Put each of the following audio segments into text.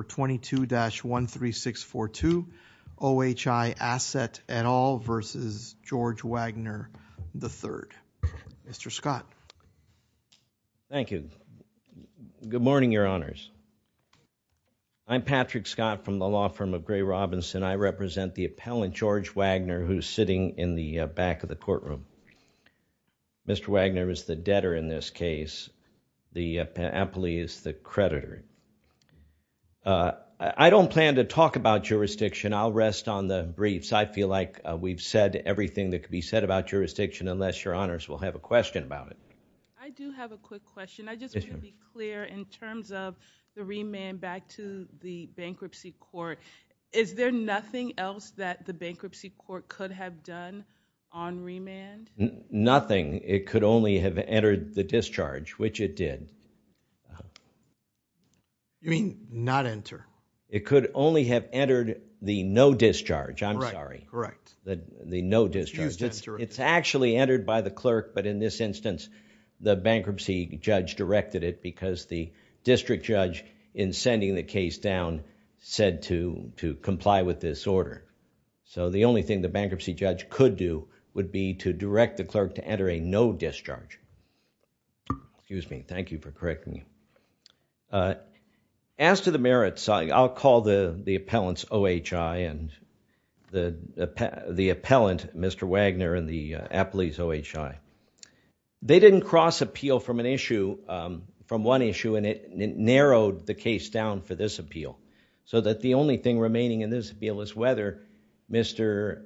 22-13642 OHI Asset et al. v. George Wagner, III Mr. Scott. Thank you. Good morning, Your Honors. I'm Patrick Scott from the law firm of Gray Robinson. I represent the appellant George Wagner who's sitting in the back of the courtroom. Mr. Wagner is the debtor in this case. The I don't plan to talk about jurisdiction. I'll rest on the briefs. I feel like we've said everything that could be said about jurisdiction unless Your Honors will have a question about it. I do have a quick question. I just want to be clear in terms of the remand back to the bankruptcy court. Is there nothing else that the bankruptcy court could have done on remand? Nothing. It could only have entered the discharge, which it did. You mean not enter? It could only have entered the no discharge. I'm sorry. Correct. The no discharge. It's actually entered by the clerk, but in this instance, the bankruptcy judge directed it because the district judge in sending the case down said to comply with this order. So the only thing the bankruptcy judge could do would be to direct the clerk to enter a no discharge. Correct me. As to the merits, I'll call the the appellants OHI and the the appellant Mr. Wagner and the appellees OHI. They didn't cross appeal from an issue, from one issue, and it narrowed the case down for this appeal so that the only thing remaining in this appeal is whether Mr.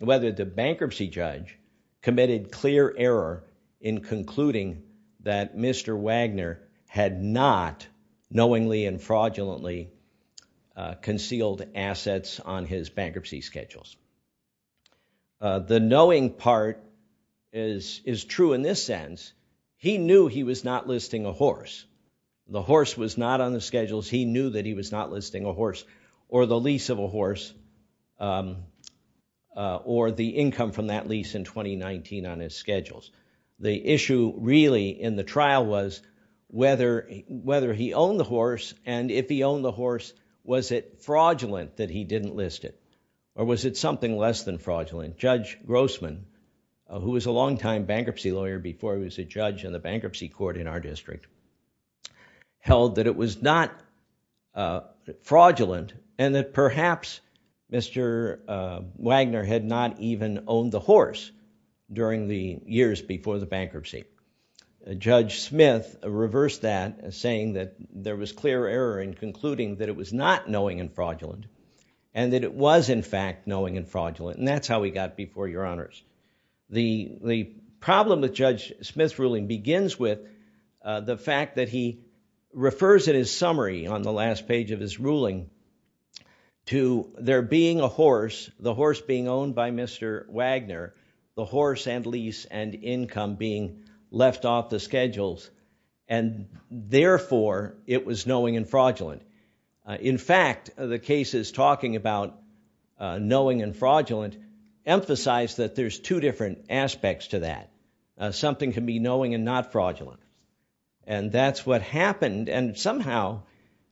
whether the bankruptcy judge committed clear error in concluding that Mr. Wagner had not knowingly and fraudulently concealed assets on his bankruptcy schedules. The knowing part is is true in this sense. He knew he was not listing a horse. The horse was not on the schedules. He knew that he was not listing a horse or the lease of a horse or the income from that lease in 2019 on his schedules. The issue really in the trial was whether whether he owned the horse and if he owned the horse, was it fraudulent that he didn't list it or was it something less than fraudulent? Judge Grossman, who was a longtime bankruptcy lawyer before he was a judge in the bankruptcy court in our district, held that it was not fraudulent and that perhaps Mr. Wagner had not even owned the horse during the years before the bankruptcy. Judge Smith reversed that saying that there was clear error in concluding that it was not knowing and fraudulent and that it was in fact knowing and fraudulent and that's how we got before your honors. The the problem with Judge Smith's ruling begins with the fact that he refers in his summary on the last page of his ruling to there being a horse, the horse being owned by Mr. Wagner, the horse and lease and income being left off the schedules and therefore it was knowing and fraudulent. In fact, the cases talking about knowing and fraudulent emphasize that there's two different aspects to that. Something can be and that's what happened and somehow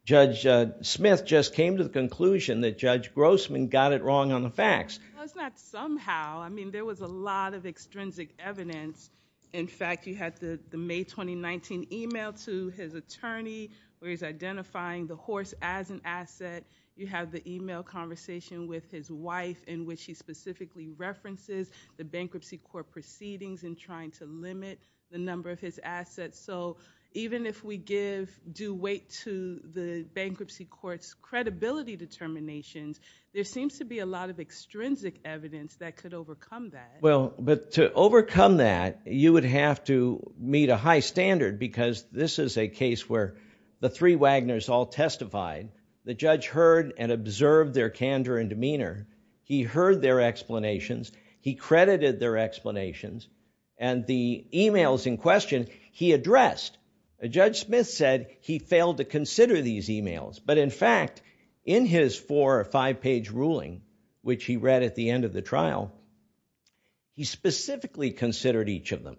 Judge Smith just came to the conclusion that Judge Grossman got it wrong on the facts. It's not somehow. I mean there was a lot of extrinsic evidence. In fact, you had the May 2019 email to his attorney where he's identifying the horse as an asset. You have the email conversation with his wife in which he specifically references the bankruptcy court proceedings and trying to limit the number of his assets. So even if we give due weight to the bankruptcy court's credibility determinations, there seems to be a lot of extrinsic evidence that could overcome that. Well, but to overcome that you would have to meet a high standard because this is a case where the three Wagners all testified. The judge heard and observed their candor and demeanor. He heard their explanations. He credited their explanations and the emails in question he addressed. Judge Smith said he failed to consider these emails, but in fact in his four or five page ruling, which he read at the end of the trial, he specifically considered each of them.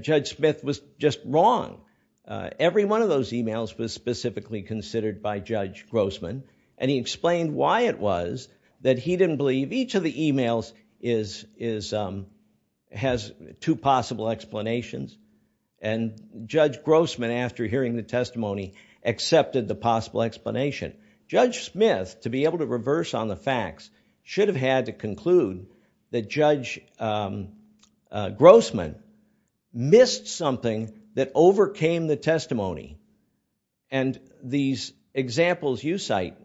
Judge Smith was just wrong. Every one of those emails was specifically considered by Judge Grossman and he explained why it was that he didn't believe each of the emails has two possible explanations. And Judge Grossman, after hearing the testimony, accepted the possible explanation. Judge Smith, to be able to reverse on the facts, should have had to conclude that Judge Grossman missed something that overcame the testimony. And these examples you cite,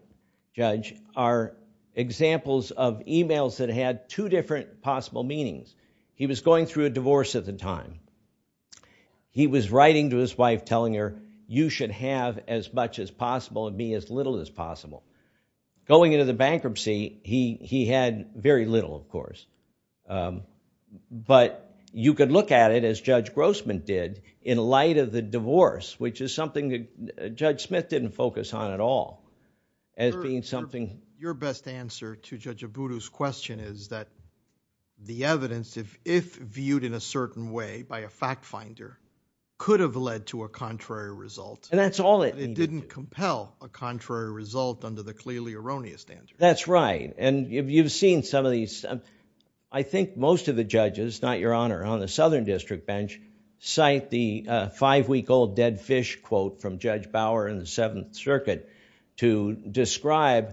Judge, are examples of emails that had two different possible meanings. He was going through a divorce at the time. He was writing to his wife telling her, you should have as much as possible and be as little as possible. Going into the bankruptcy, he had very little, of course, but you could look at it as Judge Grossman did in light of the divorce, which is something that Judge Smith didn't focus on at all as being something. Your best answer to Judge Abudu's question is that the evidence, if viewed in a certain way by a fact finder, could have led to a contrary result. And that's all it needed. It didn't compel a contrary result under the clearly erroneous standard. That's right. And if you've seen some of these, I think most of the judges, not your honor, on the Southern District Bench cite the five-week-old dead fish quote from Judge Bauer in the Seventh Circuit. The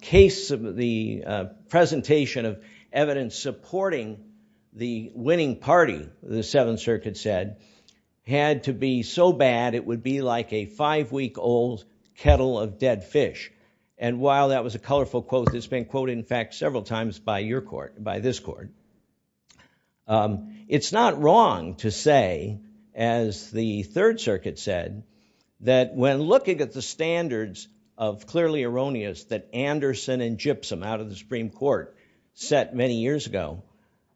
case of the presentation of evidence supporting the winning party, the Seventh Circuit said, had to be so bad it would be like a five-week-old kettle of dead fish. And while that was a colorful quote, it's been quoted, in fact, several times by your court, by this court. It's not wrong to say, as the Third Circuit said, that when looking at the standards of clearly erroneous that Anderson and Gypsum out of the Supreme Court set many years ago,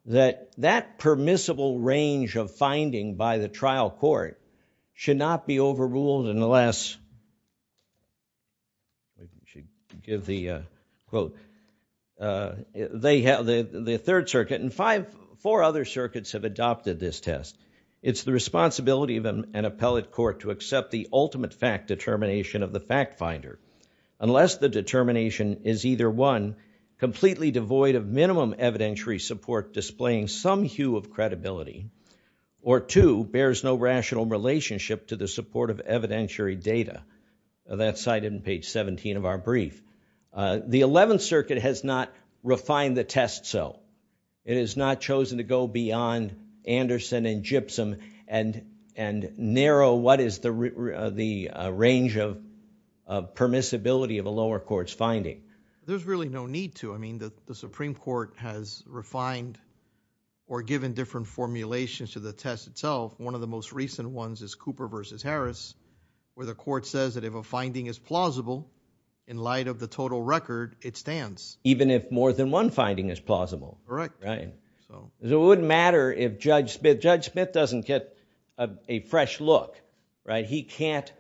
that that permissible range of finding by the trial court should not be overruled unless, I should give the quote, they have, the Third Circuit and five, four other circuits have adopted this test. It's the responsibility of an appellate court to accept the ultimate fact determination of the fact finder unless the determination is either one, completely devoid of minimum evidentiary support displaying some hue of credibility, or two, bears no rational relationship to the support of that cited in page 17 of our brief. The Eleventh Circuit has not refined the test so. It has not chosen to go beyond Anderson and Gypsum and narrow what is the range of permissibility of a lower court's finding. There's really no need to. I mean, the Supreme Court has refined or given different formulations to the test itself. One of the most recent ones is Cooper versus Harris where the court says that if a finding is plausible in light of the total record, it stands. Even if more than one finding is plausible. Correct. Right. So it wouldn't matter if Judge Smith, Judge Smith doesn't get a fresh look, right? He can't,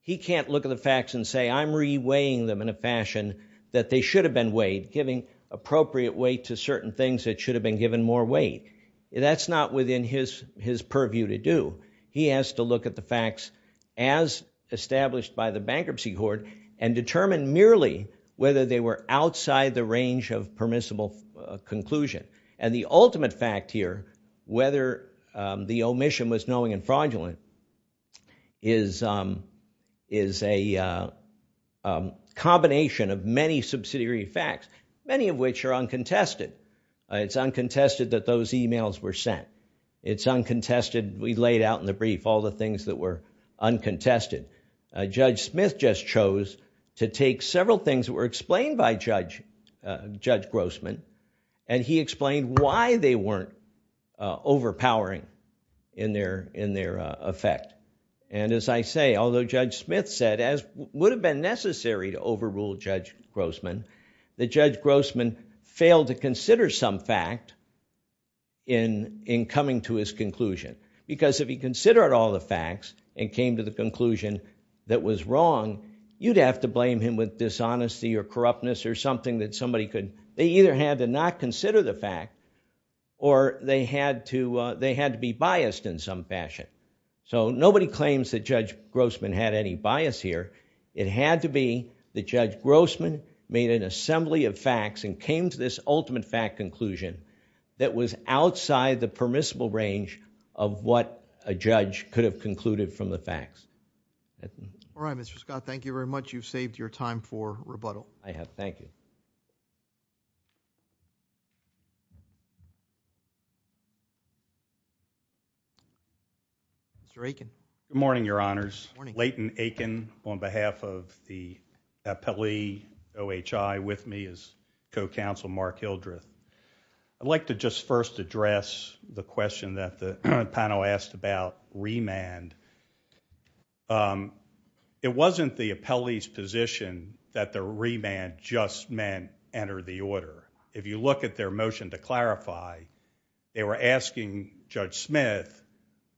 he can't look at the facts and say I'm re-weighing them in a fashion that they should have been weighed, giving appropriate weight to certain things that should have been given more weight. That's not within his purview to do. He has to look at the facts as established by the bankruptcy court and determine merely whether they were outside the range of permissible conclusion. And the ultimate fact here, whether the omission was knowing and fraudulent, is a combination of many subsidiary facts, many of which are uncontested. It's uncontested that those emails were sent. It's uncontested we laid out in the brief all the things that were uncontested. Judge Smith just chose to take several things that were explained by Judge Grossman and he explained why they weren't overpowering in their effect. And as I say, although Judge Smith said, as would have been necessary to overrule Judge Grossman, that Judge Grossman failed to consider some fact in, in coming to his conclusion. Because if he considered all the facts and came to the conclusion that was wrong, you'd have to blame him with dishonesty or corruptness or something that somebody could, they either had to not consider the fact or they had to, they had to be biased in some fashion. So nobody claims that Judge Grossman had any bias here. It had to be that was outside the permissible range of what a judge could have concluded from the facts. All right, Mr. Scott, thank you very much. You've saved your time for rebuttal. I have. Thank you. Mr. Aiken. Good morning, your honors. Layton Aiken on behalf of the appellee OHI with me as counsel Mark Hildreth. I'd like to just first address the question that the panel asked about remand. It wasn't the appellee's position that the remand just meant enter the order. If you look at their motion to clarify, they were asking Judge Smith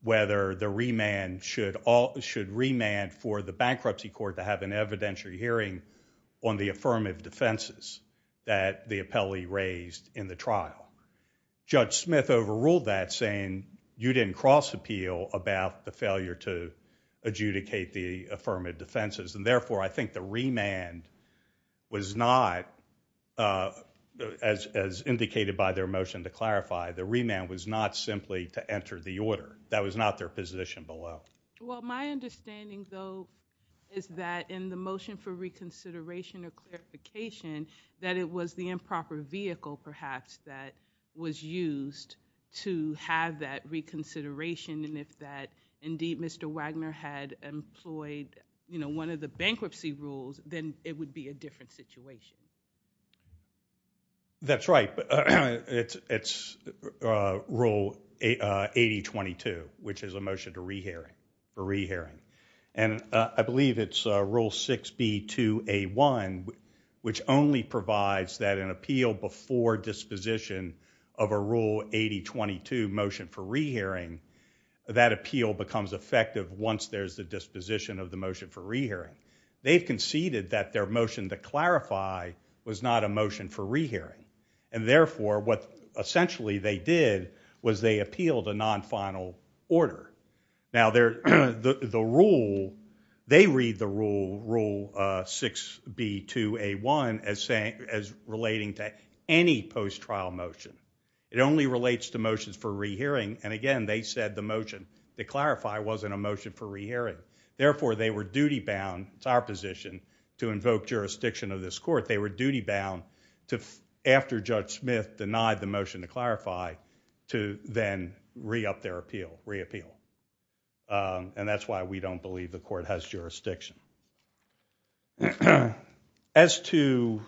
whether the remand should all, should remand for the bankruptcy court to have an evidentiary hearing on the affirmative defenses that the appellee raised in the trial. Judge Smith overruled that saying you didn't cross appeal about the failure to adjudicate the affirmative defenses and therefore I think the remand was not, as indicated by their motion to clarify, the remand was not simply to enter the order. That was not their position below. Well, my understanding though is that in the that it was the improper vehicle perhaps that was used to have that reconsideration and if that indeed Mr. Wagner had employed, you know, one of the bankruptcy rules, then it would be a different situation. That's right, but it's it's rule 8022 which is a motion to re-hearing for re-hearing and I believe it's rule 6B2A1 which only provides that an appeal before disposition of a rule 8022 motion for re-hearing, that appeal becomes effective once there's the disposition of the motion for re-hearing. They've conceded that their motion to clarify was not a motion for re-hearing and therefore what essentially they did was they appealed a non-final order. Now, they read the rule 6B2A1 as relating to any post-trial motion. It only relates to motions for re-hearing and again they said the motion to clarify wasn't a motion for re-hearing. Therefore, they were duty-bound. It's our position to invoke jurisdiction of this court. They were duty-bound to after Judge Smith denied the motion to clarify to then re-up their appeal, re-appeal and that's why we don't believe the court has jurisdiction. As to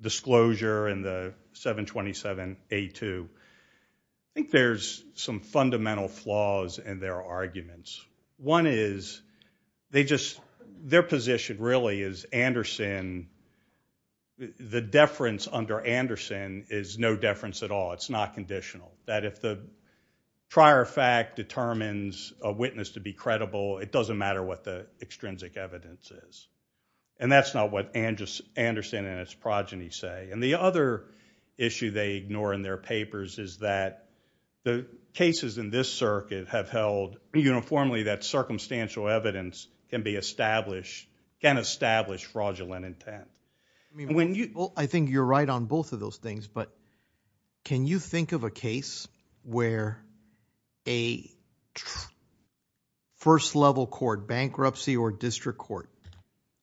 disclosure and the 727A2, I think there's some fundamental flaws in their arguments. One is their position really is the deference under Anderson is no deference at all. It's not conditional. That if the prior fact determines a witness to be credible, it doesn't matter what the extrinsic evidence is and that's not what Anderson and its progeny say. The other issue they ignore in their papers is that the cases in this circuit have held uniformly that circumstantial evidence can establish fraudulent intent. I think you're right on both of those things but can you think of a case where a first-level court, bankruptcy or district court,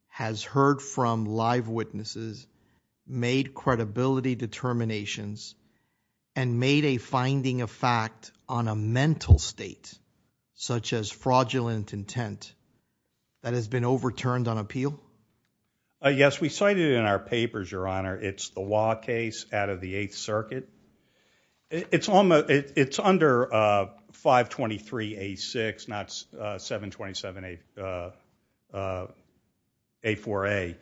has heard from live witnesses, made credibility determinations and made a finding of fact on a mental state such as fraudulent intent that has been overturned on appeal? Yes, we cited in our papers, your honor, it's the law case out of the 8th circuit. It's under 523A6, not 727A4A.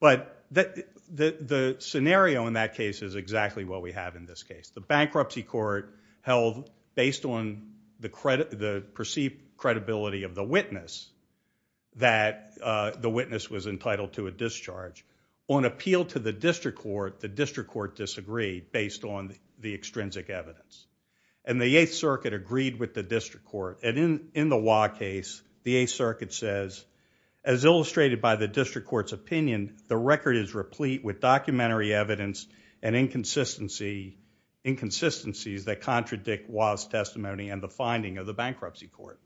But the scenario in that case is exactly what we have in this case. The bankruptcy court held based on the perceived credibility of the witness that the witness was entitled to a discharge. On appeal to the district court, the district court disagreed based on the extrinsic evidence. And the 8th circuit agreed with the district court and in the law case, the 8th circuit says, as illustrated by the district court's opinion, the record is replete with documentary evidence and inconsistencies that contradict the testimony and the finding of the bankruptcy court.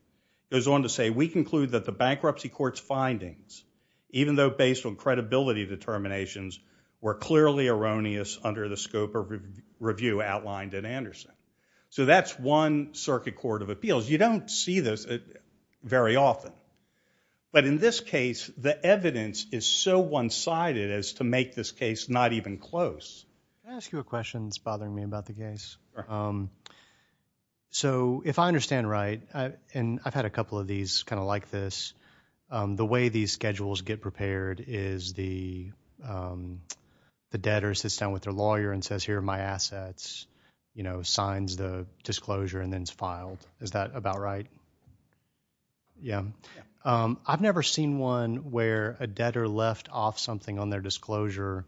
It goes on to say, we conclude that the bankruptcy court's based on credibility determinations were clearly erroneous under the scope of review outlined at Anderson. So that's one circuit court of appeals. You don't see this very often. But in this case, the evidence is so one-sided as to make this case not even close. Can I ask you a question that's bothering me about the case? So if I understand right, and I've had a couple of these kind of like this, the way these schedules get prepared is the debtor sits down with their lawyer and says, here are my assets, you know, signs the disclosure and then it's filed. Is that about right? Yeah. I've never seen one where a debtor left off something on their disclosure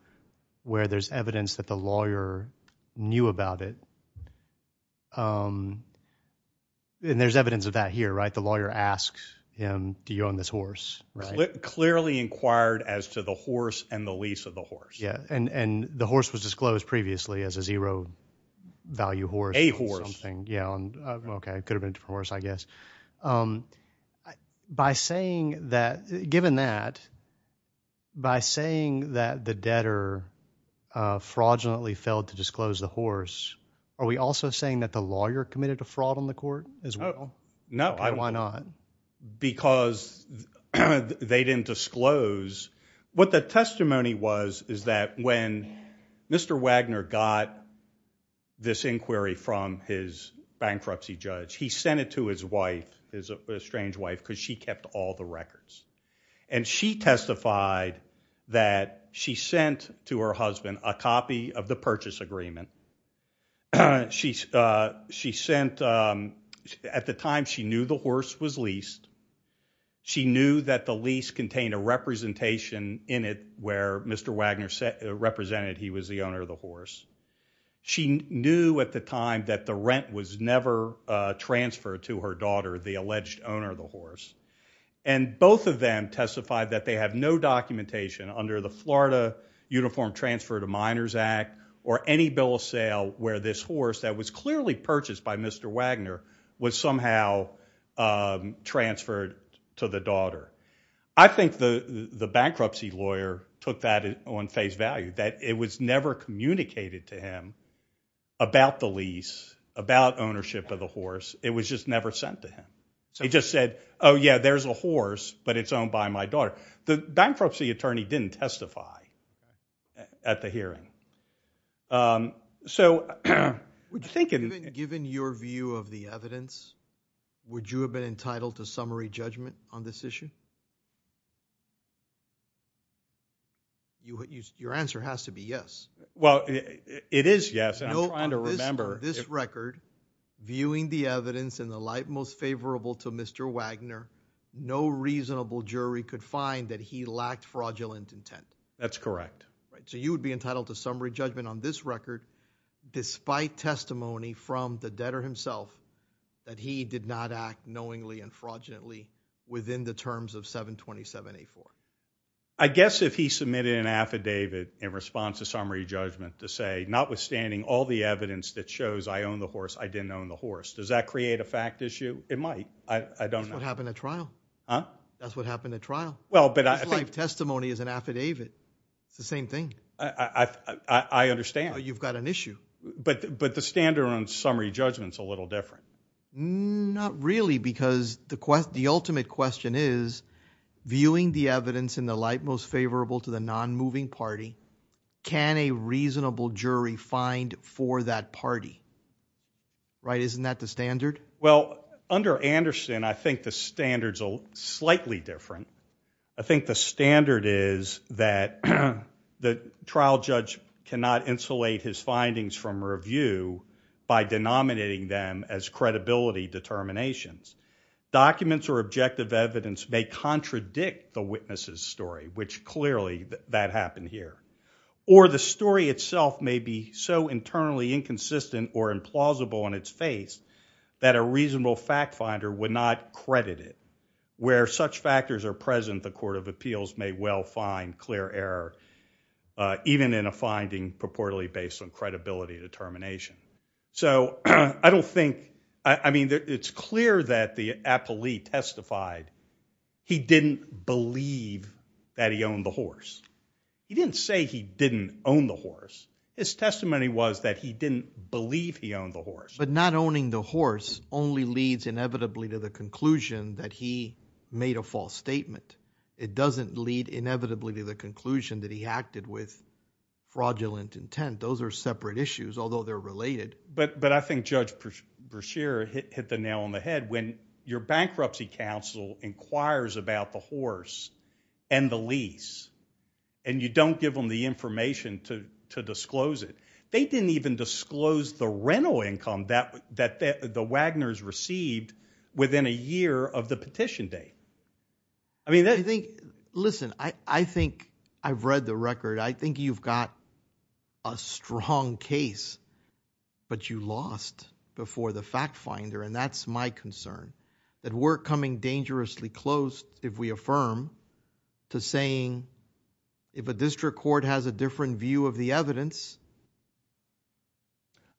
where there's evidence that the lawyer knew about it. Um, and there's evidence of that here, right? The lawyer asks him, do you own this horse? Right. Clearly inquired as to the horse and the lease of the horse. Yeah. And, and the horse was disclosed previously as a zero value horse. A horse. Something. Yeah. Okay. It could have been a horse, I guess. Um, by saying that, given that, by saying that the debtor, uh, fraudulently failed to disclose the horse, are we also saying that the lawyer committed a fraud on the court as well? No. Why not? Because they didn't disclose what the testimony was is that when Mr. Wagner got this inquiry from his bankruptcy judge, he sent it to his wife, his estranged wife, she kept all the records and she testified that she sent to her husband a copy of the purchase agreement. Uh, she's, uh, she sent, um, at the time she knew the horse was leased. She knew that the lease contained a representation in it where Mr. Wagner said, represented he was the owner of the horse. She knew at the time that the rent was never, uh, transferred to her daughter, the alleged owner of the horse. And both of them testified that they have no documentation under the Florida Uniform Transfer to Minors Act or any bill of sale where this horse that was clearly purchased by Mr. Wagner was somehow, um, transferred to the daughter. I think the, the bankruptcy lawyer took that on face value that it was never communicated to him about the lease, about ownership of the horse. It was just never sent to him. So he just said, oh yeah, there's a horse, but it's owned by my daughter. The bankruptcy attorney didn't testify at the hearing. Um, so would you think given your view of the evidence, would you have been entitled to summary judgment on this issue? Your answer has to be yes. Well, it is yes. And I'm trying to remember. This record viewing the evidence in the light most favorable to Mr. Wagner, no reasonable jury could find that he lacked fraudulent intent. That's correct. Right. So you would be entitled to summary judgment on this record, despite testimony from the debtor himself that he did not act knowingly and fraudulently within the terms of 727A4. I guess if he submitted an affidavit in response to summary judgment to say notwithstanding all the evidence that shows I own the horse, I didn't own the horse. Does that create a fact issue? It might. I don't know. That's what happened at trial. Huh? That's what happened at trial. Well, but I think testimony is an affidavit. It's the same thing. I, I, I, I understand. You've got an issue. But, but the standard on summary judgment's a little different. Not really, because the quest, the ultimate question is viewing the evidence in the light most favorable to the non-moving party. Can a reasonable jury find for that party? Right. Isn't that the standard? Well, under Anderson, I think the standards are slightly different. I think the standard is that the trial judge cannot insulate his findings from review by denominating them as credibility determinations. Documents or objective evidence may contradict the witness's story, which clearly that happened here. Or the story itself may be so internally inconsistent or implausible in its face that a reasonable fact finder would not credit it. Where such factors are present, the court of appeals may well find clear error, even in a finding purportedly based on credibility determination. So, I don't think, I mean, it's clear that the appellee testified he didn't believe that he owned the horse. He didn't say he didn't own the horse. His testimony was that he didn't believe he owned the horse. But not owning the horse only leads inevitably to the conclusion that he made a false statement. It doesn't lead inevitably to the conclusion that he acted with fraudulent intent. Those are separate issues, although they're related. But I think Judge Brashear hit the nail on the head. When your bankruptcy counsel inquires about the horse and the lease, and you don't give them the information to disclose it, they didn't even I mean, I think, listen, I think I've read the record. I think you've got a strong case, but you lost before the fact finder. And that's my concern that we're coming dangerously close if we affirm to saying if a district court has a different view of the evidence.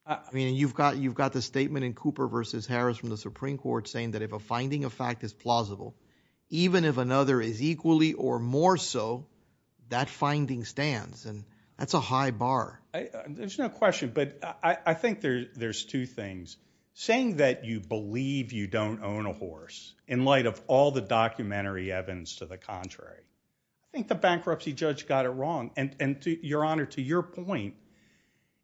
I mean, you've got you've got the statement in Cooper versus Harris from the Supreme Court saying that if a finding of fact is plausible, even if another is equally or more so, that finding stands. And that's a high bar. There's no question. But I think there's two things saying that you believe you don't own a horse in light of all the documentary evidence to the contrary. I think the bankruptcy judge got it wrong. And your honor, to your point,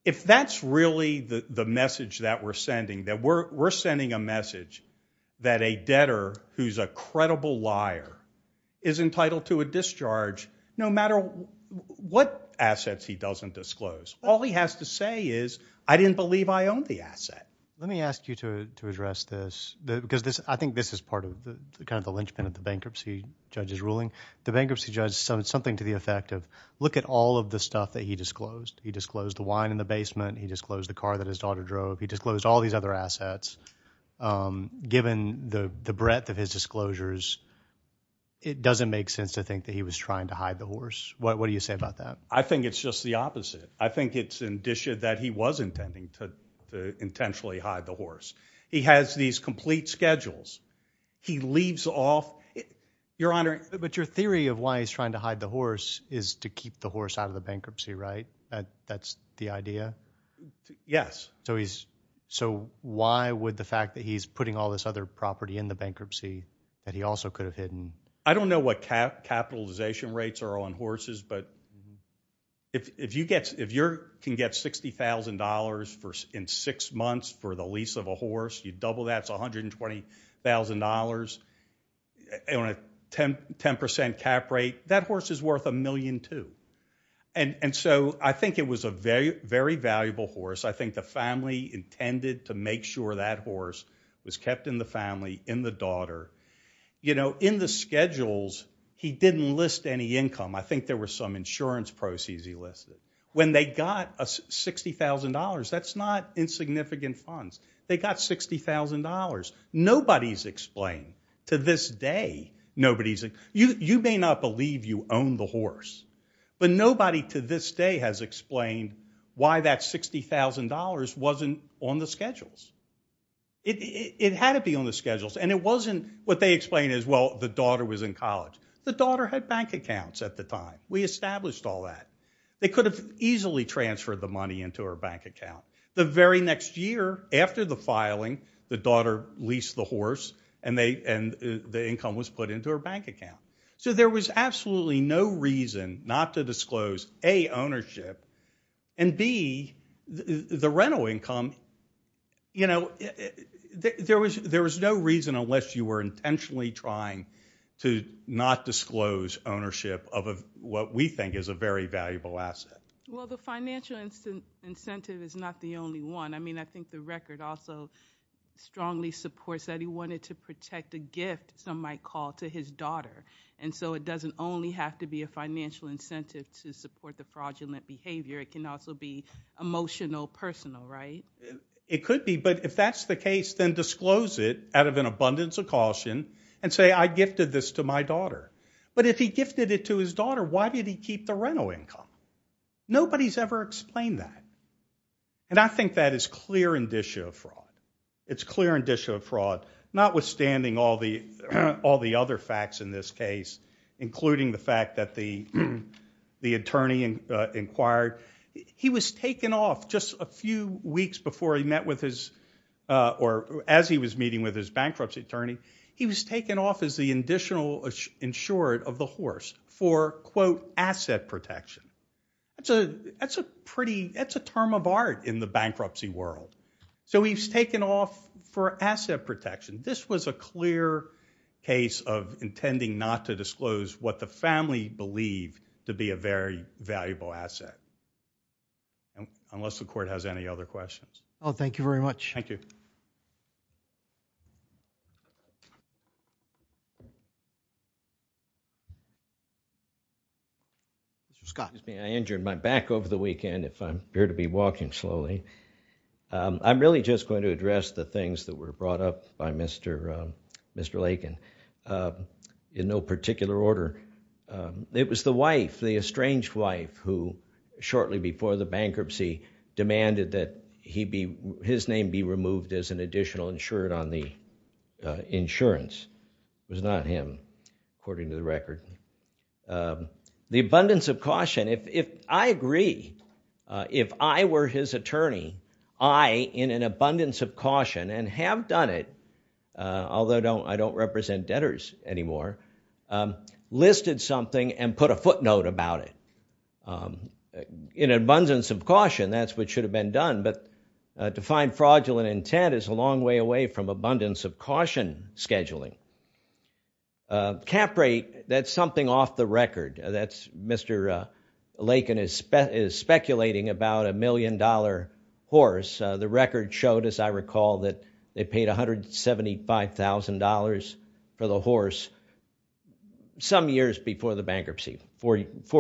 if that's really the message that we're sending, that we're we're sending a message that a debtor who's a credible liar is entitled to a discharge no matter what assets he doesn't disclose. All he has to say is I didn't believe I owned the asset. Let me ask you to address this because I think this is part of the kind of the linchpin of the bankruptcy judge's ruling. The bankruptcy judge said something to the effect of look at all of the stuff that he disclosed. He disclosed the wine in the basement. He disclosed the car that his daughter drove. He disclosed all these other assets. Given the breadth of his disclosures, it doesn't make sense to think that he was trying to hide the horse. What do you say about that? I think it's just the opposite. I think it's indicia that he was intending to intentionally hide the horse. He has these complete schedules. He leaves off your honor. But your theory of why he's trying to hide the horse is to keep the horse out of the bankruptcy, right? That's the idea? Yes. So why would the fact that he's putting all this other property in the bankruptcy that he also could have hidden? I don't know what capitalization rates are on horses, but if you can get $60,000 in six months for the lease of a horse, you double that, it's $120,000 on a 10% cap rate, that horse is worth a million, too. And so I think it was a very valuable horse. I think the family intended to make sure that horse was kept in the family, in the daughter. In the schedules, he didn't list any income. I think there were some insurance proceeds he listed. When they got $60,000, that's not insignificant funds. They got $60,000. Nobody's explained to this day. You may not believe you own the horse, but nobody to this day has explained why that $60,000 wasn't on the schedules. It had to be on the schedules, and it wasn't what they explained as, well, the daughter was in college. The daughter had bank accounts at the time. We established all that. They could have easily transferred the money into her bank account. The very next year, after the filing, the daughter leased the horse, and the income was put into her bank account. So there was absolutely no reason not to disclose, A, ownership, and B, the rental income, you know, there was no reason unless you were intentionally trying to not disclose ownership of what we think is a very valuable asset. Well, the financial incentive is not the only one. I mean, I think the record also strongly supports that he wanted to protect a gift, some might call, to his daughter, and so it doesn't only have to be a financial incentive to support the fraudulent behavior. It can also be emotional, personal, right? It could be, but if that's the case, then disclose it out of an abundance of caution, and say, I gifted this to my daughter. But if he gifted it to his daughter, why did he keep the rental income? Nobody's ever explained that. And I think that is clear indicia of fraud. It's clear indicia of fraud, notwithstanding all the other facts in this case, including the fact that the attorney inquired. He was taken off just a few weeks before he met with his, or as he was meeting with his bankruptcy attorney, he was taken off as the additional insured of the horse for, quote, asset protection. That's a pretty, that's a term of art in the bankruptcy world. So he's taken off for asset protection. This was a clear case of intending not to disclose what the family believed to be a very valuable asset, unless the court has any other questions. Oh, thank you very much. Thank you. Mr. Scott. Excuse me, I injured my back over the weekend if I'm here to be walking slowly. I'm really just going to address the things that were brought up by Mr. Lakin in no particular order. It was the wife, the estranged wife, who shortly before the bankruptcy demanded that his name be removed as an additional insured on the insurance. It was not him, according to the record. The abundance of caution, if I agree, if I were his attorney, I, in an abundance of caution, and have done it, although I don't represent debtors anymore, listed something and put a defined fraudulent intent is a long way away from abundance of caution scheduling. Cap rate, that's something off the record. That's Mr. Lakin is speculating about a million dollar horse. The record showed, as I recall, that they paid $175,000 for the horse some years before the bankruptcy, four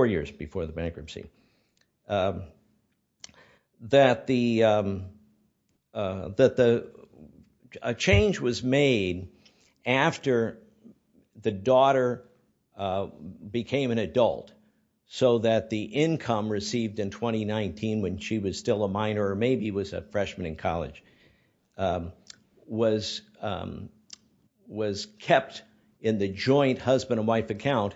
years before the bankruptcy. That the, that the, a change was made after the daughter became an adult, so that the income received in 2019, when she was still a minor, or maybe was a freshman in college, was was kept in the joint husband and wife account.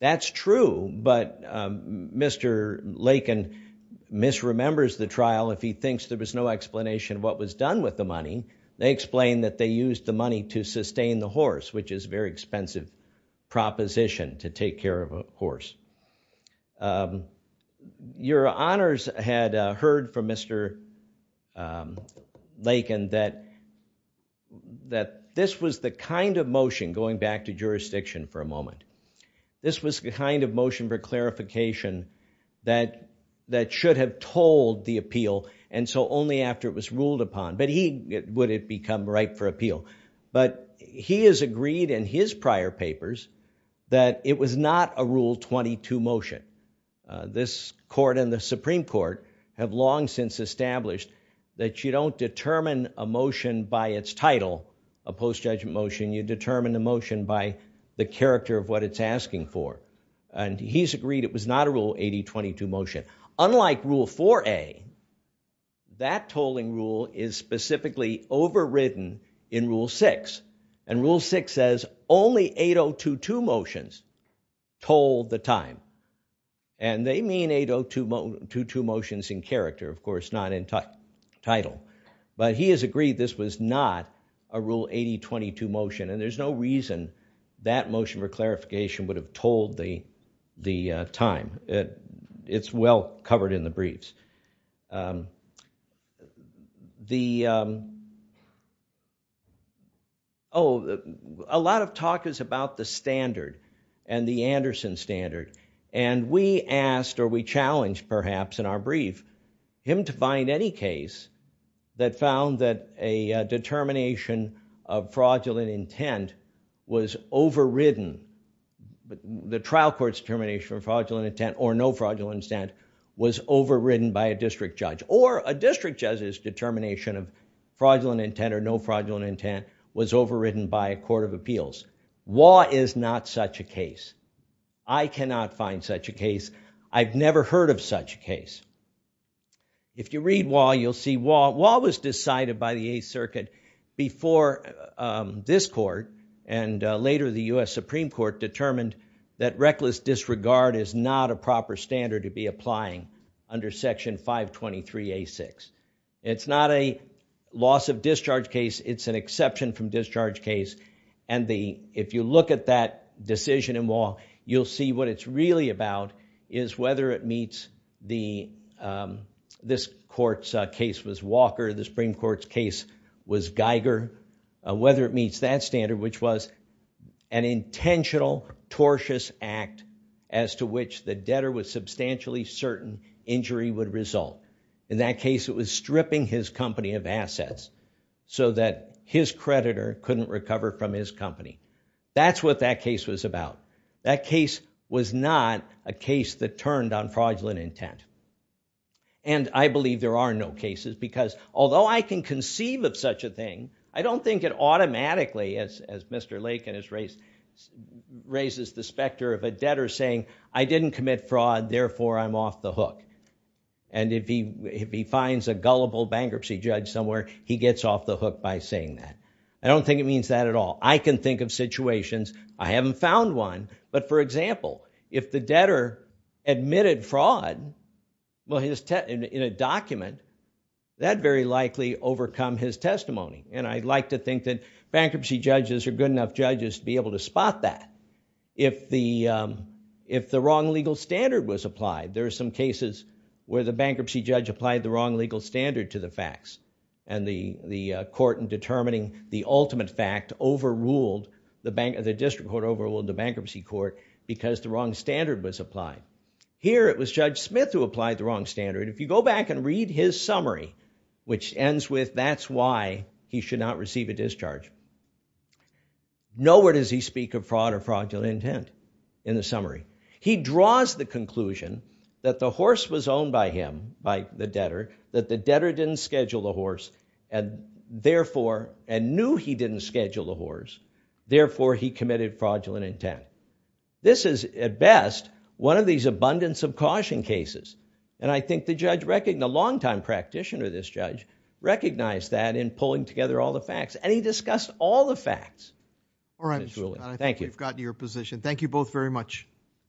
That's true, but Mr. Lakin misremembers the trial if he thinks there was no explanation of what was done with the money. They explained that they used the money to sustain the horse, which is a very expensive proposition to take care of a horse. Um, your honors had heard from Mr. Lakin that that this was the kind of motion, going back to jurisdiction for a moment, this was the kind of motion for clarification that that should have told the appeal, and so only after it was ruled upon, but he would it become ripe for appeal, but he has agreed in his prior papers that it was not a Rule 22 motion. This court and the Supreme Court have long since established that you don't determine a motion by its title, a post-judgment motion, you determine the motion by the character of what it's asking for, and he's agreed it was not a Rule 8022 motion. Unlike Rule 4a, that tolling rule is specifically overridden in Rule 6, and Rule 6 says only 8022 motions told the time, and they mean 8022 motions in character, of course, not in title, but he has agreed this was not a Rule 8022 motion, and there's no reason that motion for clarification would have told the time. It's well covered in the briefs. The, oh, a lot of talk is about the standard, and the Anderson standard, and we asked, or we challenged, perhaps in our brief, him to find any case that found that a determination of fraudulent intent was overridden, the trial court's determination of fraudulent intent, or no fraudulent intent, was overridden by a district judge, or a district judge's determination of fraudulent intent, or no fraudulent intent, was overridden by a court of appeals. Waugh is not such a case. I cannot find such a case. I've never heard of such a case. If you read Waugh, you'll see Waugh. Waugh was decided by the Eighth Circuit before this court, and later the U.S. Supreme Court determined that reckless disregard is not a proper standard to be applying under Section 523A6. It's not a loss of discharge case. It's an exception from discharge case, and the, if you look at that decision in Waugh, you'll see what it's really about is whether it meets the, this court's case was Walker, the Supreme Court's case was Geiger, whether it met that standard, which was an intentional, tortious act as to which the debtor was substantially certain injury would result. In that case, it was stripping his company of assets so that his creditor couldn't recover from his company. That's what that case was about. That case was not a case that turned on fraudulent intent, and I believe there are no cases, because although I can conceive of such a thing, I don't think it automatically, as Mr. Lakin has raised, raises the specter of a debtor saying, I didn't commit fraud, therefore I'm off the hook, and if he finds a gullible bankruptcy judge somewhere, he gets off the hook by saying that. I don't think it means that at all. I can think of situations, I haven't found one, but for example, if the debtor admitted fraud in a testimony, and I'd like to think that bankruptcy judges are good enough judges to be able to spot that. If the, if the wrong legal standard was applied, there are some cases where the bankruptcy judge applied the wrong legal standard to the facts, and the court in determining the ultimate fact overruled the bank, the district court overruled the bankruptcy court because the wrong standard was applied. Here, it was Judge Smith who applied the wrong standard. If you go back and read his summary, which ends with, that's why he should not receive a discharge, nowhere does he speak of fraud or fraudulent intent in the summary. He draws the conclusion that the horse was owned by him, by the debtor, that the debtor didn't schedule the horse, and therefore, and knew he didn't schedule the horse, therefore he committed fraudulent intent. This is, at best, one of these abundance of caution cases, and I think the judge reckoned, the long-time practitioner of this judge, recognized that in pulling together all the facts, and he discussed all the facts. All right. Thank you. I think we've gotten to your position. Thank you both very much.